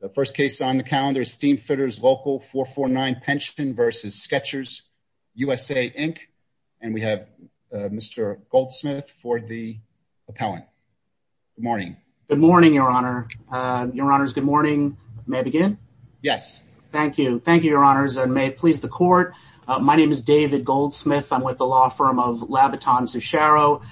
The first case on the calendar is Steamfitters Local 449 Pension v. Skechers U.S.A, Inc. And we have Mr. Goldsmith for the appellant. Good morning. Good morning, Your Honor. Your Honors, good morning. May I begin? Yes. Thank you. Thank you, Your Honors, and may it please the Court. My name is David Goldsmith. I'm with the law firm of Labiton-Zuchero.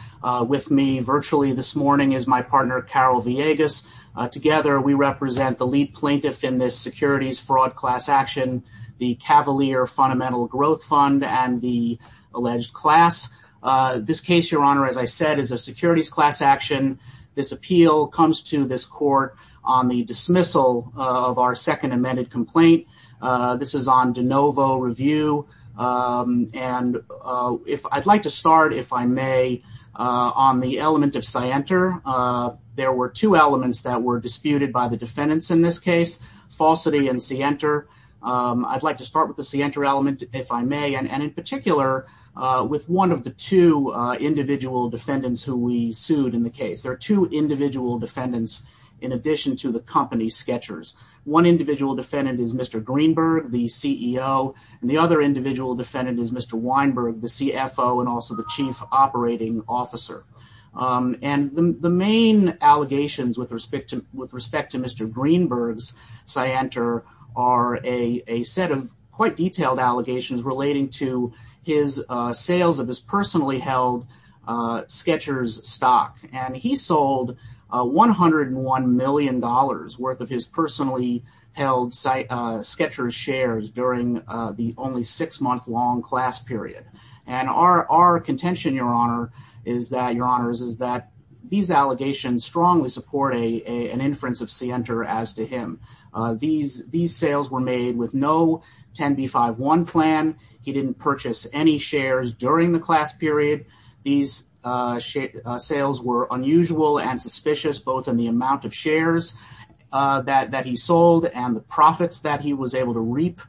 With me virtually this morning is my partner, Carol Villegas. Together, we represent the lead plaintiff in this securities fraud class action, the Cavalier Fundamental Growth Fund, and the alleged class. This case, Your Honor, as I said, is a securities class action. This appeal comes to this Court on the dismissal of our second amended complaint. This is on de novo review. And I'd like to start, if I may, on the element of scienter. There were two elements that were disputed by the defendants in this case, falsity and scienter. I'd like to start with the scienter element, if I may, and in particular, with one of the two individual defendants who we sued in the case. There are two individual defendants in addition to the company, Skechers. One individual defendant is Mr. Greenberg, the CEO, and the other individual defendant is Mr. Weinberg, the CFO, and also the Chief Operating Officer. And the main allegations with respect to Mr. Greenberg's scienter are a set of quite detailed allegations relating to his sales of his personally held Skechers stock. And he sold $101 million worth of his personally held Skechers shares during the only six-month-long class period. And our contention, your honors, is that these allegations strongly support an inference of scienter as to him. These sales were made with no 10B51 plan. He didn't purchase any shares during the class period. These sales were unusual and suspicious, both in the amount of shares that he sold and the profits that he was able to reap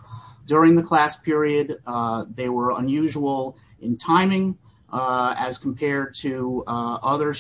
during the class period. They were unusual in timing as compared to other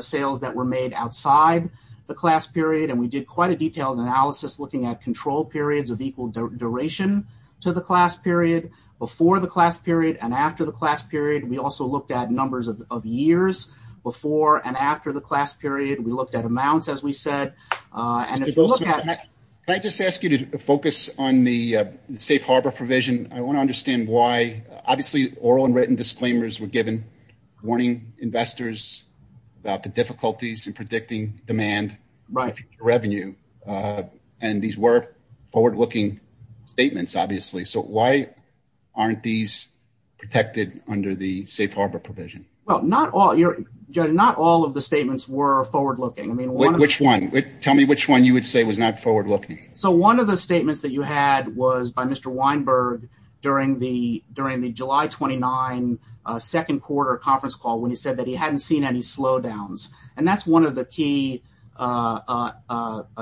sales that were made outside the class period. And we did quite a detailed analysis looking at control periods of equal duration to the class period, before the class period, and after the class period. We also looked at numbers of years before and after the class period. We looked at amounts, as we said, and if you look at- I just ask you to focus on the safe harbor provision. I want to understand why, obviously, oral and written disclaimers were given warning investors about the difficulties in predicting demand revenue. And these were forward-looking statements, obviously. So why aren't these protected under the safe harbor provision? Not all of the statements were forward-looking. Which one? Tell me which one you would say was not forward-looking. So one of the statements that you had was by Mr. Weinberg during the July 29 second quarter conference call when he said that he hadn't seen any slowdowns. And that's one of the key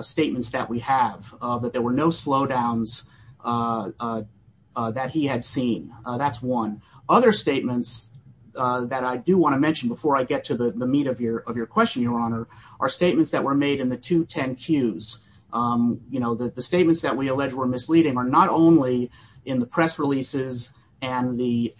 statements that we have, that there were no slowdowns that he had seen. That's one. Other statements that I do want to mention before I get to the meat of your question, are statements that were made in the two 10-Qs. The statements that we allege were misleading are not only in the press releases and the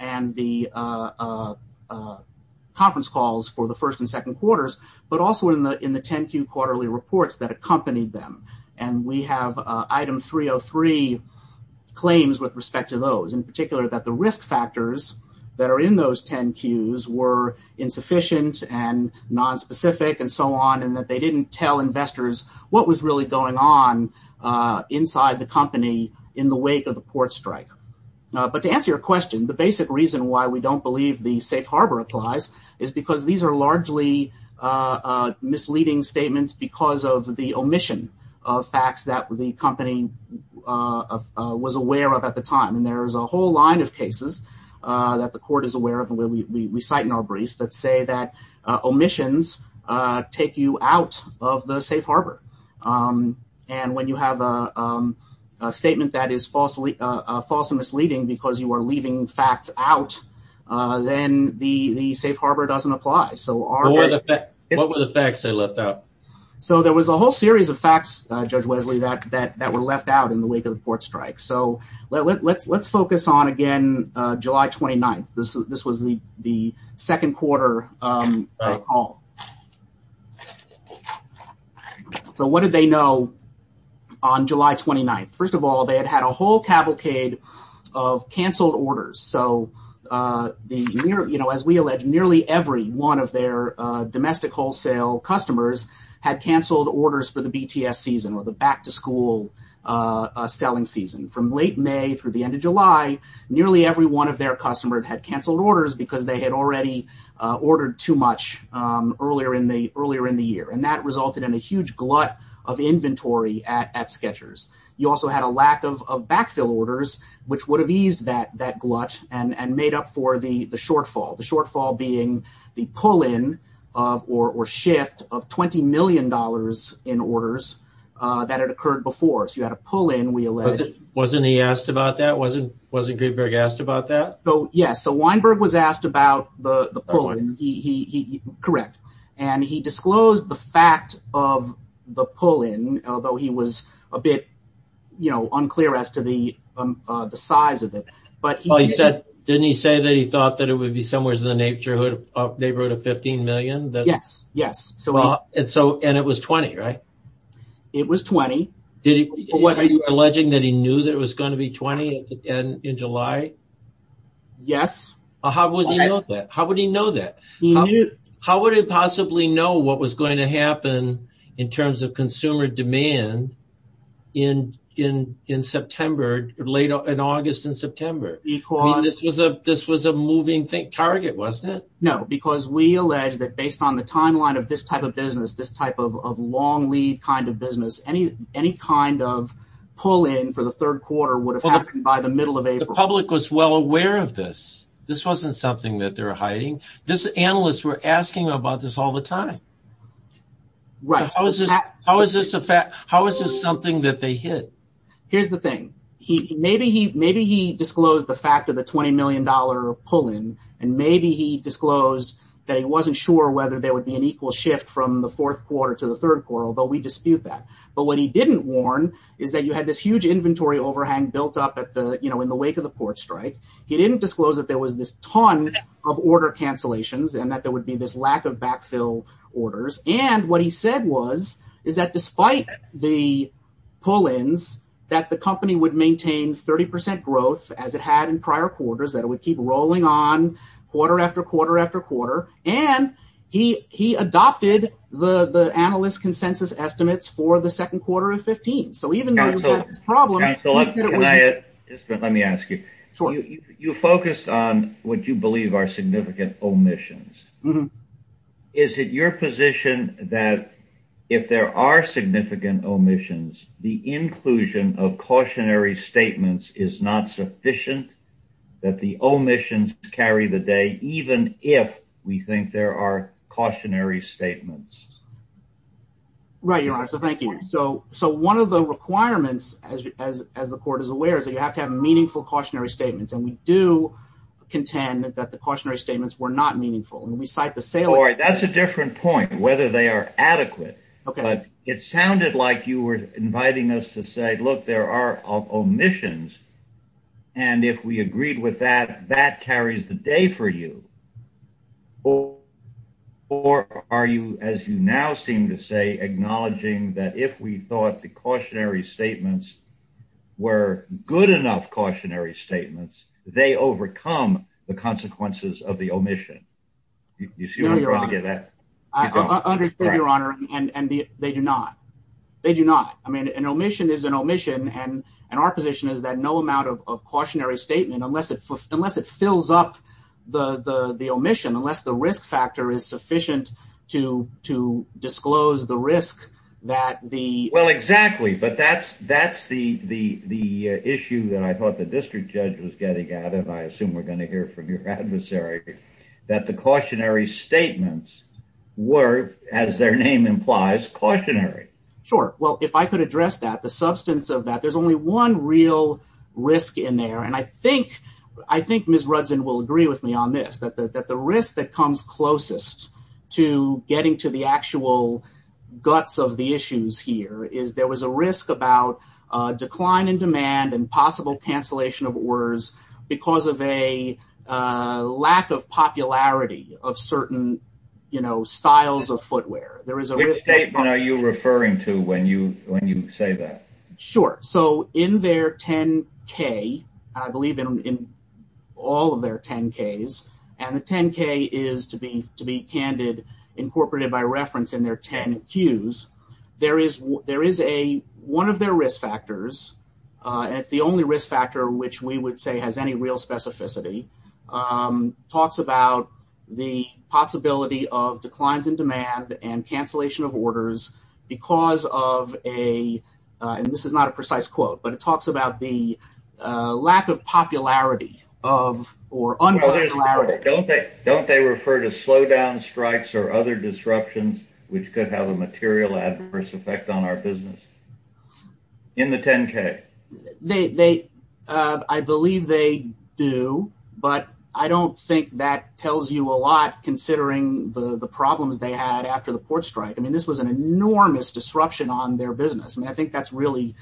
conference calls for the first and second quarters, but also in the 10-Q quarterly reports that accompanied them. And we have item 303 claims with respect to those, in particular, that the risk factors that are in those 10-Qs were insufficient and nonspecific and so on. And that they didn't tell investors what was really going on inside the company in the wake of the port strike. But to answer your question, the basic reason why we don't believe the safe harbor applies is because these are largely misleading statements because of the omission of facts that the company was aware of at the time. There's a whole line of cases that the court is aware of, and we cite in our brief, that say that omissions take you out of the safe harbor. And when you have a statement that is falsely misleading because you are leaving facts out, then the safe harbor doesn't apply. What were the facts they left out? So there was a whole series of facts, Judge Wesley, that were left out in the wake of the port strike. So let's focus on, again, July 29th. This was the second quarter call. So what did they know on July 29th? First of all, they had had a whole cavalcade of canceled orders. So as we allege, nearly every one of their customers had canceled orders for the BTS season or the back-to-school selling season. From late May through the end of July, nearly every one of their customers had canceled orders because they had already ordered too much earlier in the year. And that resulted in a huge glut of inventory at Skechers. You also had a lack of backfill orders, which would have eased that glut and made up for the shortfall. The shortfall being the pull-in or shift of $20 million in orders that had occurred before. So you had a pull-in, we allege. Wasn't he asked about that? Wasn't Greenberg asked about that? Yes. So Weinberg was asked about the pull-in. Correct. And he disclosed the fact of the pull-in, although he was a bit unclear as to the size of it. Didn't he say that he would be somewhere in the neighborhood of $15 million? Yes. And it was $20,000, right? It was $20,000. Are you alleging that he knew that it was going to be $20,000 in July? Yes. How would he know that? How would he possibly know what was going to happen in terms of consumer demand in August and September? This was a moving target, wasn't it? No, because we allege that based on the timeline of this type of business, this type of long lead kind of business, any kind of pull-in for the third quarter would have happened by the middle of April. The public was well aware of this. This wasn't something that they were hiding. These analysts were asking about this all the time. How is this something that they hid? Here's the thing. Maybe he disclosed the fact of the $20 million pull-in, and maybe he disclosed that he wasn't sure whether there would be an equal shift from the fourth quarter to the third quarter, although we dispute that. But what he didn't warn is that you had this huge inventory overhang built up in the wake of the port strike. He didn't disclose that there was this ton of order cancellations and that there would be this lack of backfill orders. What he said was is that despite the pull-ins, the company would maintain 30% growth as it had in prior quarters, that it would keep rolling on quarter after quarter after quarter. He adopted the analyst consensus estimates for the second quarter of 2015. Let me ask you. You focused on what you believe are significant omissions. Is it your position that if there are significant omissions, the inclusion of cautionary statements is not sufficient, that the omissions carry the day, even if we think there are cautionary statements? Right, Your Honor. Thank you. One of the requirements, as the court is aware, is that you have to have meaningful cautionary statements. We do contend that the cautionary statements were not meaningful. That's a different point, whether they are adequate. It sounded like you were inviting us to say, look, there are omissions, and if we agreed with that, that carries the day for you. Or are you, as you now seem to say, acknowledging that if we thought the cautionary statements were good enough cautionary statements, they overcome the consequences of the omission? I understand, Your Honor, and they do not. An omission is an omission, and our position is that no amount of cautionary statement, unless it fills up the omission, unless the risk factor is sufficient to disclose the risk that the... Well, exactly, but that's the issue that I thought the district judge was getting at, and I assume we're going to hear from your adversary, that the cautionary statements were, as their name implies, cautionary. Sure. Well, if I could address that, the substance of that, there's only one real risk in there, and I think Ms. Rudzin will agree with me on this, that the risk that comes closest to getting to the actual guts of the issues here is there was a risk about decline in demand and possible cancellation of orders because of a lack of popularity of certain, you know, styles of footwear. Which statement are you referring to when you say that? Sure. So, in their 10-K, and I believe in all of their 10-Ks, and the 10-K is, to be candid, incorporated by reference in their 10-Qs, there is a... One of their risk factors, and it's the only risk factor which we would say has any real specificity, talks about the possibility of declines in demand and cancellation of orders because of a... And this is not a precise quote, but it talks about the lack of popularity of, or unpopularity. Don't they refer to slowdown strikes or other disruptions which could have a material adverse on our business? In the 10-K. They... I believe they do, but I don't think that tells you a lot considering the problems they had after the port strike. I mean, this was an enormous disruption on their business, and I think that's really...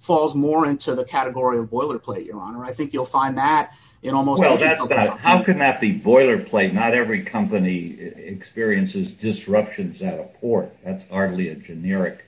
Falls more into the category of boilerplate, Your Honor. I think you'll find that in almost... Well, that's not... How can that be boilerplate? Not every company experiences disruptions at a port. That's hardly a generic...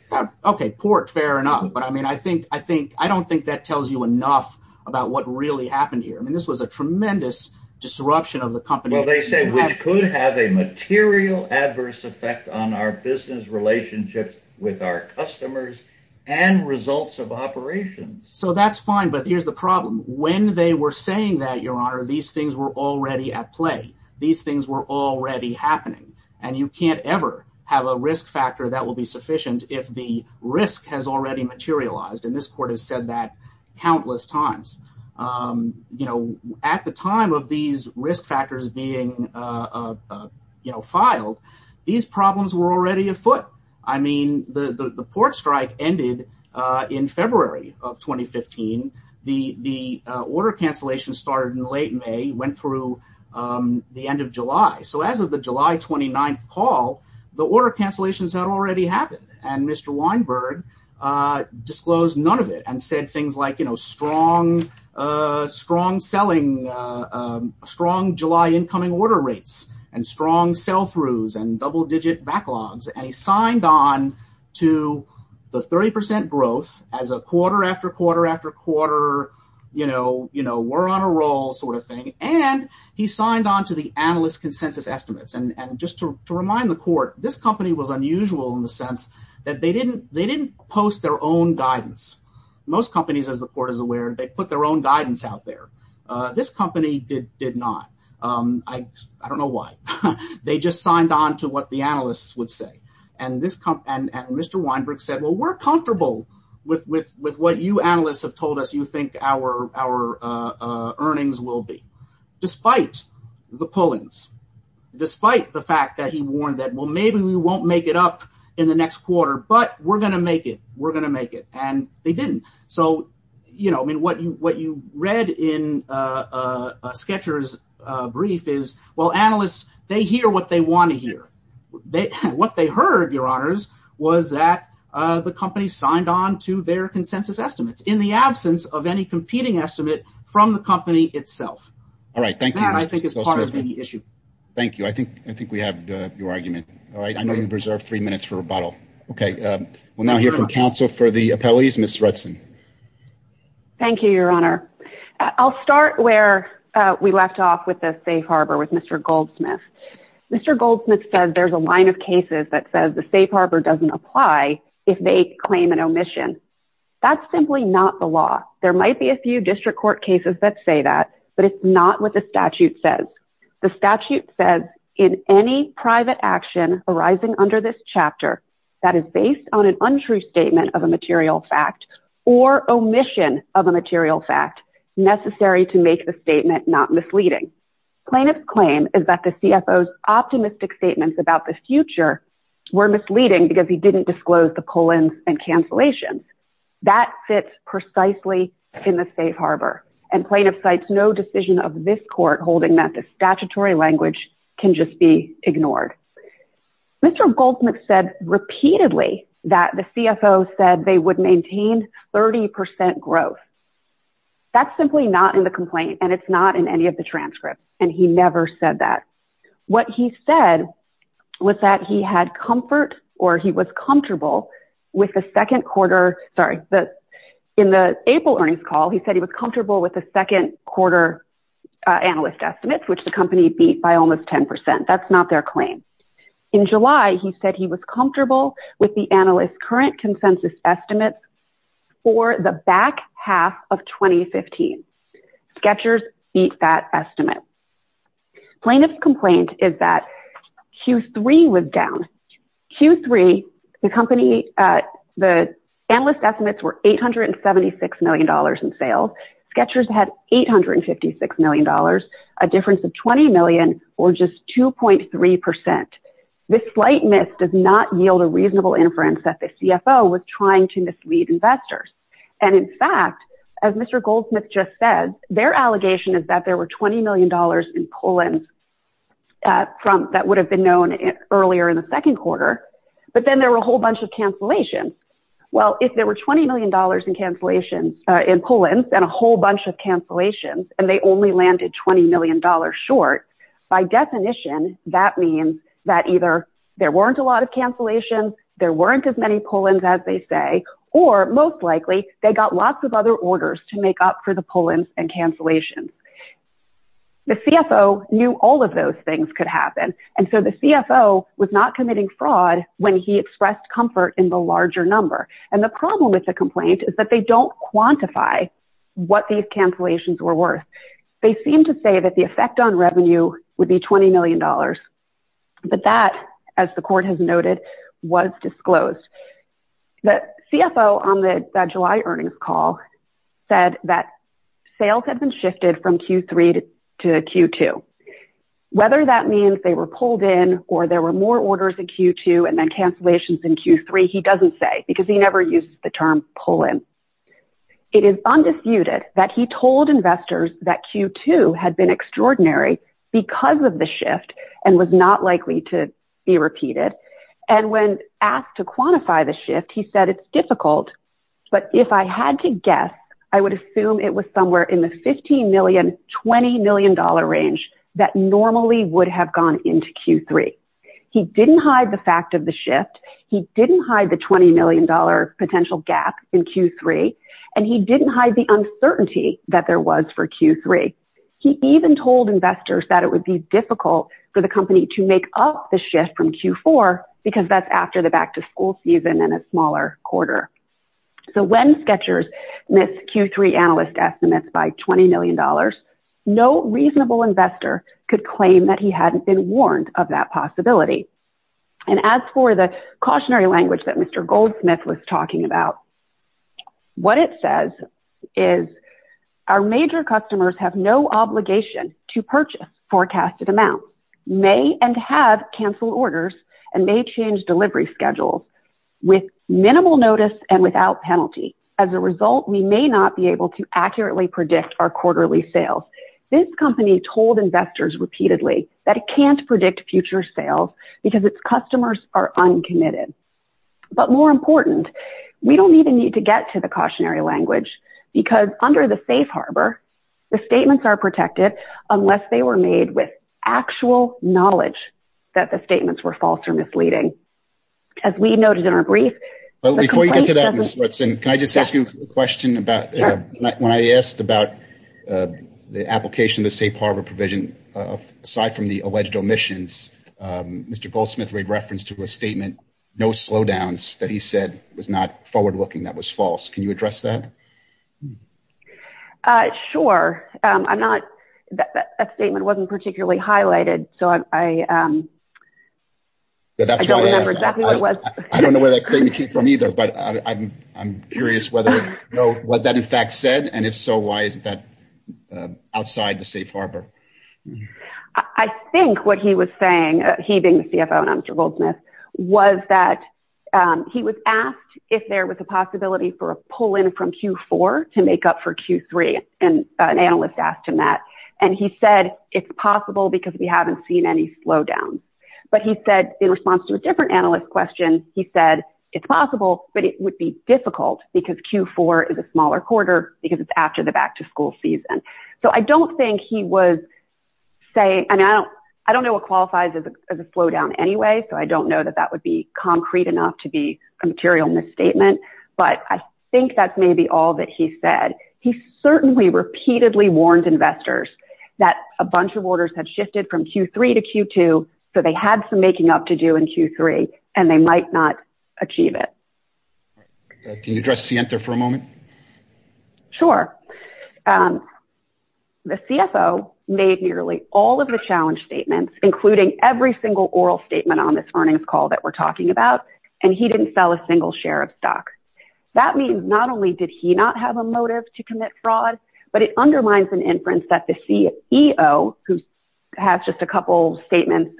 Okay, port, fair enough, but I mean, I think... I don't think that tells you enough about what really happened here. I mean, this was a tremendous disruption of the company... Well, they say which could have a material adverse effect on our business relationships with our customers and results of operations. So that's fine, but here's the problem. When they were saying that, Your Honor, these things were already at play. These things were already happening, and you can't ever have a risk factor that will be sufficient if the risk has already materialized, and this court has said that countless times. At the time of these risk factors being filed, these problems were already afoot. I mean, the port strike ended in February of 2015. The order cancellation started in late May, went through the end of July. So as of the July 29th call, the order cancellations had already happened, and Mr. Weinberg disclosed none of it and said things like, you know, strong selling, strong July incoming order rates, and strong sell-throughs, and double-digit backlogs, and he signed on to the 30% growth as a quarter after quarter after quarter, you know, we're on a roll sort of thing, and he signed on to the analyst consensus estimates. And just to remind the court, this company was unusual in the sense that they didn't post their own guidance. Most companies, as the court is aware, they put their own guidance out there. This company did not. I don't know why. They just signed on to what the analysts would say, and Mr. Weinberg said, well, we're comfortable with what you analysts have told us you think our earnings will be, despite the pullings, despite the fact that he warned that, well, maybe we won't make it up in the next quarter, but we're going to make it, we're going to make it, and they didn't. So, you know, I mean, what you read in Sketchers' brief is, well, analysts, they hear what they want to hear. What they heard, your honors, was that the company signed on to their consensus estimates in the absence of any competing estimate from the company itself. All right. Thank you. That, I think, is part of the issue. Thank you. I think we have your argument. All right. I know you've reserved three minutes for rebuttal. Okay. We'll now hear from counsel for the appellees. Ms. Rudson. Thank you, your honor. I'll start where we left off with the safe harbor with Mr. Goldsmith. Mr. Goldsmith says there's a line of cases that says the safe harbor doesn't apply if they claim an omission. That's simply not the law. There might be a few district court cases that say that, but it's not what the statute says. The statute says, in any private action arising under this chapter that is based on an untrue statement of a material fact or omission of a material fact necessary to make the statement not misleading. Plaintiff's claim is that the CFO's optimistic statements about the future were misleading because he didn't disclose the call-ins and cancellations. That fits precisely in the safe harbor. And plaintiff cites no decision of this court holding that the statutory language can just be ignored. Mr. Goldsmith said repeatedly that the CFO said they would maintain 30% growth. That's simply not in the complaint and it's not in any of the transcripts. And he never said that. What he said was that he had comfort or he was comfortable with the second quarter, sorry, in the April earnings call, he said he was comfortable with the second quarter analyst estimates, which the company beat by almost 10%. That's not their claim. In July, he said he was comfortable with the analyst current consensus estimates for the back half of 2015. Sketchers beat that estimate. Plaintiff's complaint is that Q3 was down. Q3, the company, the analyst estimates were $876 million in sales. Sketchers had $856 million, a difference of 20 million or just 2.3%. This slight miss does not yield a reasonable inference that the CFO was trying to mislead investors. And in fact, as Mr. Goldsmith just said, their allegation is that there were $20 million in pull-ins that would have been known earlier in the second quarter, but then there were a whole bunch of cancellations. Well, if there were $20 million in cancellations in pull-ins and a whole bunch of cancellations, and they only landed $20 million short, by definition, that means that either there weren't a lot of cancellations, there weren't as many pull-ins as they say, or most likely, they got lots of other orders to make up for the pull-ins and cancellations. The CFO knew all of those things could happen. And so the CFO was not committing fraud when he expressed comfort in the larger number. And the problem with the complaint is that they don't quantify what these cancellations were worth. They seem to say that the effect on revenue would be $20 million. But that, as the court has noted, was disclosed. The CFO on the July earnings call said that sales had been shifted from Q3 to Q2. Whether that means they were pulled in or there were more orders in Q2 and then cancellations in Q3, he doesn't say because he never uses the term pull-in. It is undisputed that he told investors that Q2 had been extraordinary because of the shift and was not likely to be repeated. And when asked to quantify the shift, he said it's difficult. But if I had to guess, I would assume it was somewhere in the $15 million, $20 million range that normally would have gone into Q3. He didn't hide the fact of the shift. He didn't hide the $20 million potential gap in Q3. And he didn't hide the uncertainty that there was for Q3. He even told investors that it would be difficult for the company to make up the shift from Q4 because that's after the back-to-school season and a smaller quarter. So when Skechers missed Q3 analyst estimates by $20 million, no reasonable investor could claim that he hadn't been warned of that possibility. And as for the cautionary language that Mr. Goldsmith was talking about, what it says is our major customers have no obligation to purchase forecasted amounts, may and have canceled orders, and may change delivery schedules with minimal notice and without penalty. As a result, we may not be able to accurately predict our quarterly sales. This company told investors repeatedly that it can't predict future sales because its customers are uncommitted. But more important, we don't even need to get to the cautionary language because under the safe harbor, the statements are protected unless they were made with actual knowledge that the statements were false or misleading. As we noted in our brief... Can I just ask you a question about when I asked about the application of the safe harbor provision, aside from the alleged omissions, Mr. Goldsmith made reference to a statement, no slowdowns, that he said was not forward-looking, that was false. Can you address that? Sure. A statement wasn't particularly highlighted, so I don't remember exactly what it was. I don't know where that statement came from either, but I'm curious whether, was that in fact said? And if so, why is that outside the safe harbor? I think what he was saying, he being the CFO and I'm Mr. Goldsmith, was that he was asked if there was a possibility for a pull-in from Q4 to make up for Q3, and an analyst asked him that. And he said, it's possible because we haven't seen any slowdowns. But he said, in response to a different question, he said, it's possible, but it would be difficult because Q4 is a smaller quarter because it's after the back-to-school season. So I don't think he was saying... I mean, I don't know what qualifies as a slowdown anyway, so I don't know that that would be concrete enough to be a material misstatement, but I think that's maybe all that he said. He certainly repeatedly warned investors that a bunch of orders had shifted from Q3 to Q2, so they had some making up to do in Q3, and they might not achieve it. Can you address Sienta for a moment? Sure. The CFO made nearly all of the challenge statements, including every single oral statement on this earnings call that we're talking about, and he didn't sell a single share of stocks. That means not only did he not have a motive to commit fraud, but it undermines an inference that the CEO, who has just a couple of statements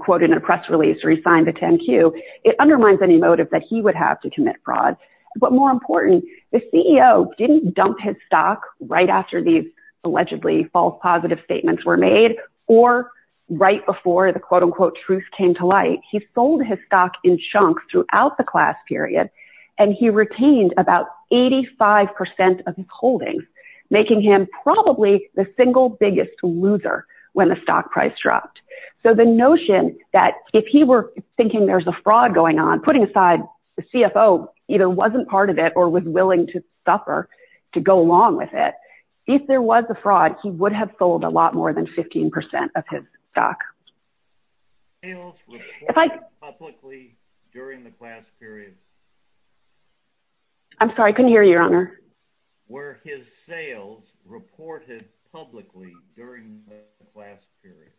quoted in a press release where he signed the 10Q, it undermines any motive that he would have to commit fraud. But more important, the CEO didn't dump his stock right after these allegedly false positive statements were made, or right before the quote-unquote truth came to light. He sold his stock in chunks throughout the class period, and he retained about 85% of his holdings, making him probably the single biggest loser when the stock price dropped. So the notion that if he were thinking there's a fraud going on, putting aside the CFO either wasn't part of it or was willing to suffer to go along with it, if there was a fraud, he would have sold a lot more than 15% of his stock. Were his sales reported publicly during the class period? I'm sorry, I couldn't hear you, Your Honor. Were his sales reported publicly during the class period?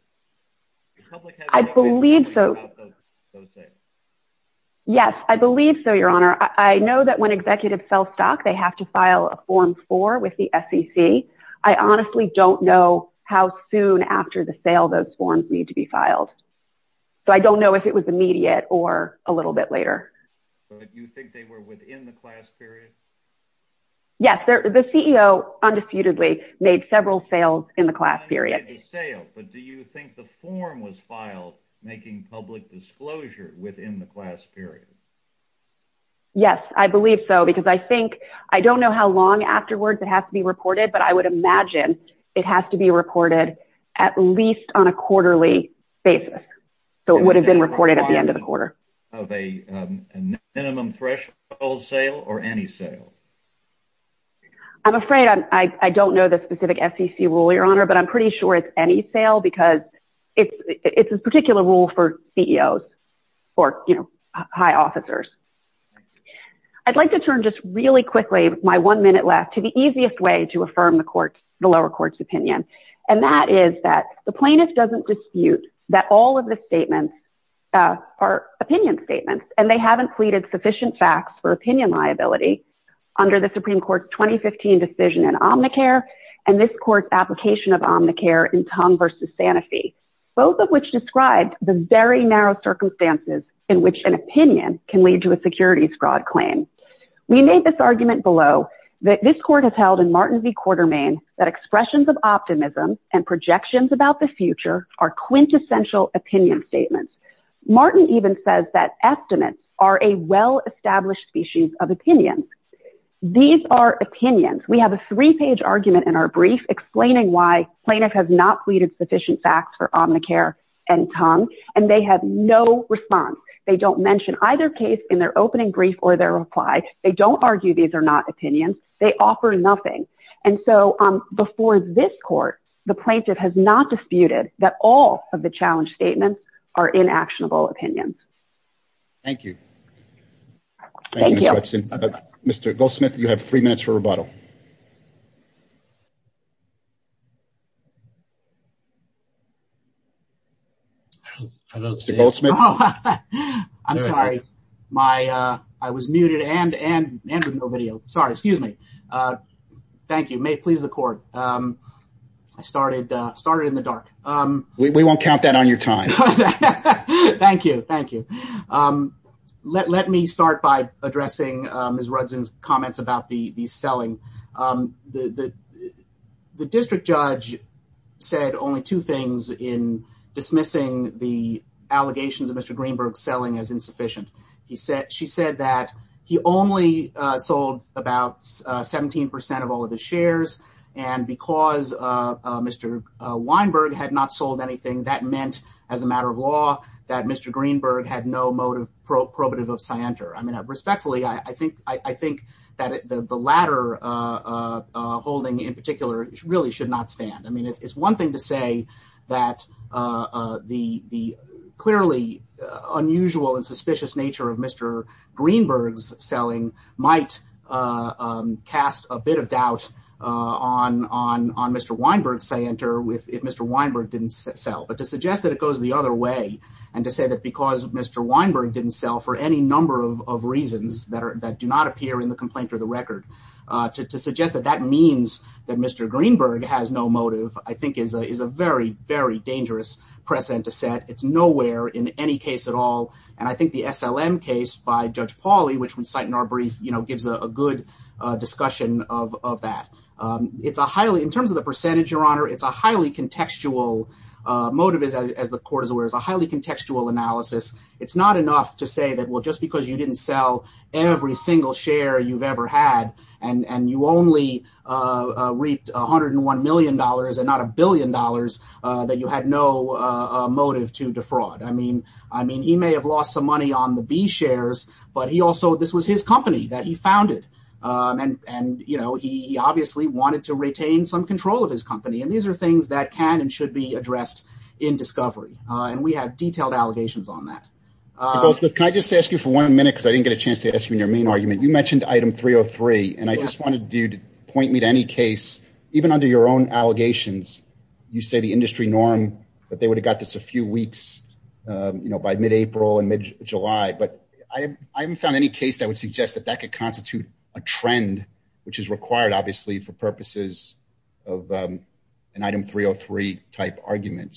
I believe so. Yes, I believe so, Your Honor. I know that when executives sell stock, they have to file a Form with the SEC. I honestly don't know how soon after the sale those forms need to be filed. So I don't know if it was immediate or a little bit later. But you think they were within the class period? Yes, the CEO undisputedly made several sales in the class period. Not in the sale, but do you think the form was filed making public disclosure within the class period? Yes, I believe so, because I don't know how long afterwards it has to be reported, but I would imagine it has to be reported at least on a quarterly basis. So it would have been reported at the end of the quarter. Minimum threshold sale or any sale? I'm afraid I don't know the specific SEC rule, Your Honor, but I'm pretty sure it's any sale because it's a particular rule for CEOs or high officers. I'd like to turn just really quickly, my one minute left, to the easiest way to affirm the lower court's opinion. And that is that the plaintiff doesn't dispute that all of the statements are opinion statements, and they haven't pleaded sufficient facts for opinion liability under the Supreme Court's 2015 decision in Omnicare and this court's application of Omnicare in Tongue v. Santa Fe, both of which described the very narrow circumstances in which an opinion can lead to a securities fraud claim. We made this argument below that this court has held in Martin v. Quartermaine that expressions of optimism and projections about the future are quintessential opinion statements. Martin even says that estimates are a well-established species of opinions. These are opinions, we have a three-page argument in our brief explaining why plaintiff has not pleaded sufficient facts for Omnicare and Tongue, and they have no response. They don't mention either case in their opening brief or their reply. They don't argue these are not opinions. They offer nothing. And so before this court, the plaintiff has not disputed that all of the challenge statements are inactionable opinions. Thank you. Thank you, Mr. Hudson. Mr. Goldsmith, you have three minutes for rebuttal. I'm sorry. I was muted and with no video. Sorry. Excuse me. Thank you. May it please the court. I started in the dark. We won't count that on your time. Thank you. Thank you. Let me start by addressing Ms. Rudzin's comments about the selling. The district judge said only two things in dismissing the allegations of Mr. Greenberg's selling as insufficient. She said that he only sold about 17 percent of all of his shares, and because Mr. Weinberg had not that Mr. Greenberg had no motive probative of scienter. I mean, respectfully, I think that the latter holding in particular really should not stand. I mean, it's one thing to say that the clearly unusual and suspicious nature of Mr. Greenberg's selling might cast a bit of doubt on Mr. Weinberg's scienter if Mr. Weinberg didn't sell, but to suggest that it goes the other way and to say that because Mr. Weinberg didn't sell for any number of reasons that do not appear in the complaint or the record, to suggest that that means that Mr. Greenberg has no motive I think is a very, very dangerous precedent to set. It's nowhere in any case at all, and I think the SLM by Judge Pauly, which we cite in our brief, gives a good discussion of that. In terms of the percentage, Your Honor, it's a highly contextual motive as the court is aware. It's a highly contextual analysis. It's not enough to say that, well, just because you didn't sell every single share you've ever had and you only reaped $101 million and not a billion dollars that you had no defraud. He may have lost some money on the B shares, but this was his company that he founded and he obviously wanted to retain some control of his company, and these are things that can and should be addressed in discovery, and we have detailed allegations on that. Can I just ask you for one minute because I didn't get a chance to ask you in your main argument? You mentioned item 303, and I just wanted you to point me to any case, even under your own allegations, you say the industry norm that they would have got this a few weeks by mid-April and mid-July, but I haven't found any case that would suggest that that could constitute a trend, which is required, obviously, for purposes of an item 303-type argument.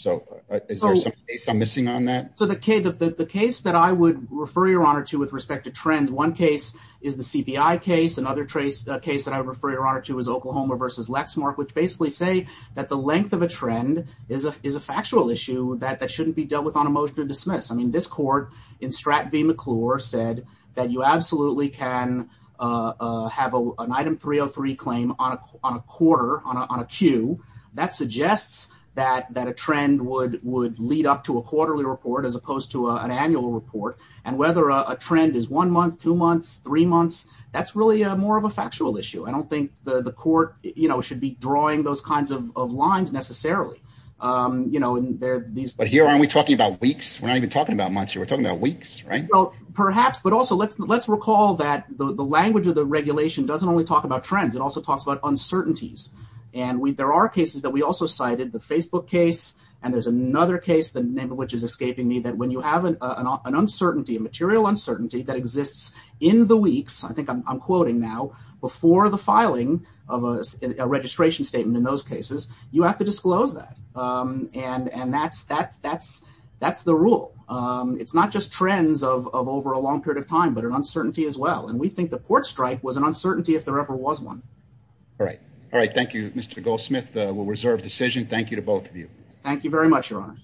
Is there some case I'm missing on that? The case that I would refer Your Honor to with respect to trends, one case is the CPI case. Another case that I would refer Your Honor to is Oklahoma v. Lexmark, which basically say that the length of a trend is a factual issue that shouldn't be dealt with on a motion to dismiss. This court in Stratton v. McClure said that you absolutely can have an item 303 claim on a quarter, on a queue. That suggests that a trend would lead up to a quarterly report as opposed to an annual report, and whether a trend is one month, two months, three months, that's really more of a factual issue. I don't think the court should be drawing those kinds of lines necessarily. Here, aren't we talking about weeks? We're not even talking about months. We're talking about weeks, right? Perhaps, but also let's recall that the language of the regulation doesn't only talk about trends. It also talks about uncertainties, and there are cases that we also cited, the Facebook case, and there's another case, the name of which is escaping me, that when you have an uncertainty, a material uncertainty that exists in the weeks, I think I'm quoting now, before the filing of a registration statement in those cases, you have to disclose that, and that's the rule. It's not just trends of over a long period of time, but an uncertainty as well, and we think the court strike was an uncertainty if there ever was one. All right. All right. Thank you, Mr. Goldsmith. We'll reserve decision. Thank you to both of you. Thank you very much, Your Honor.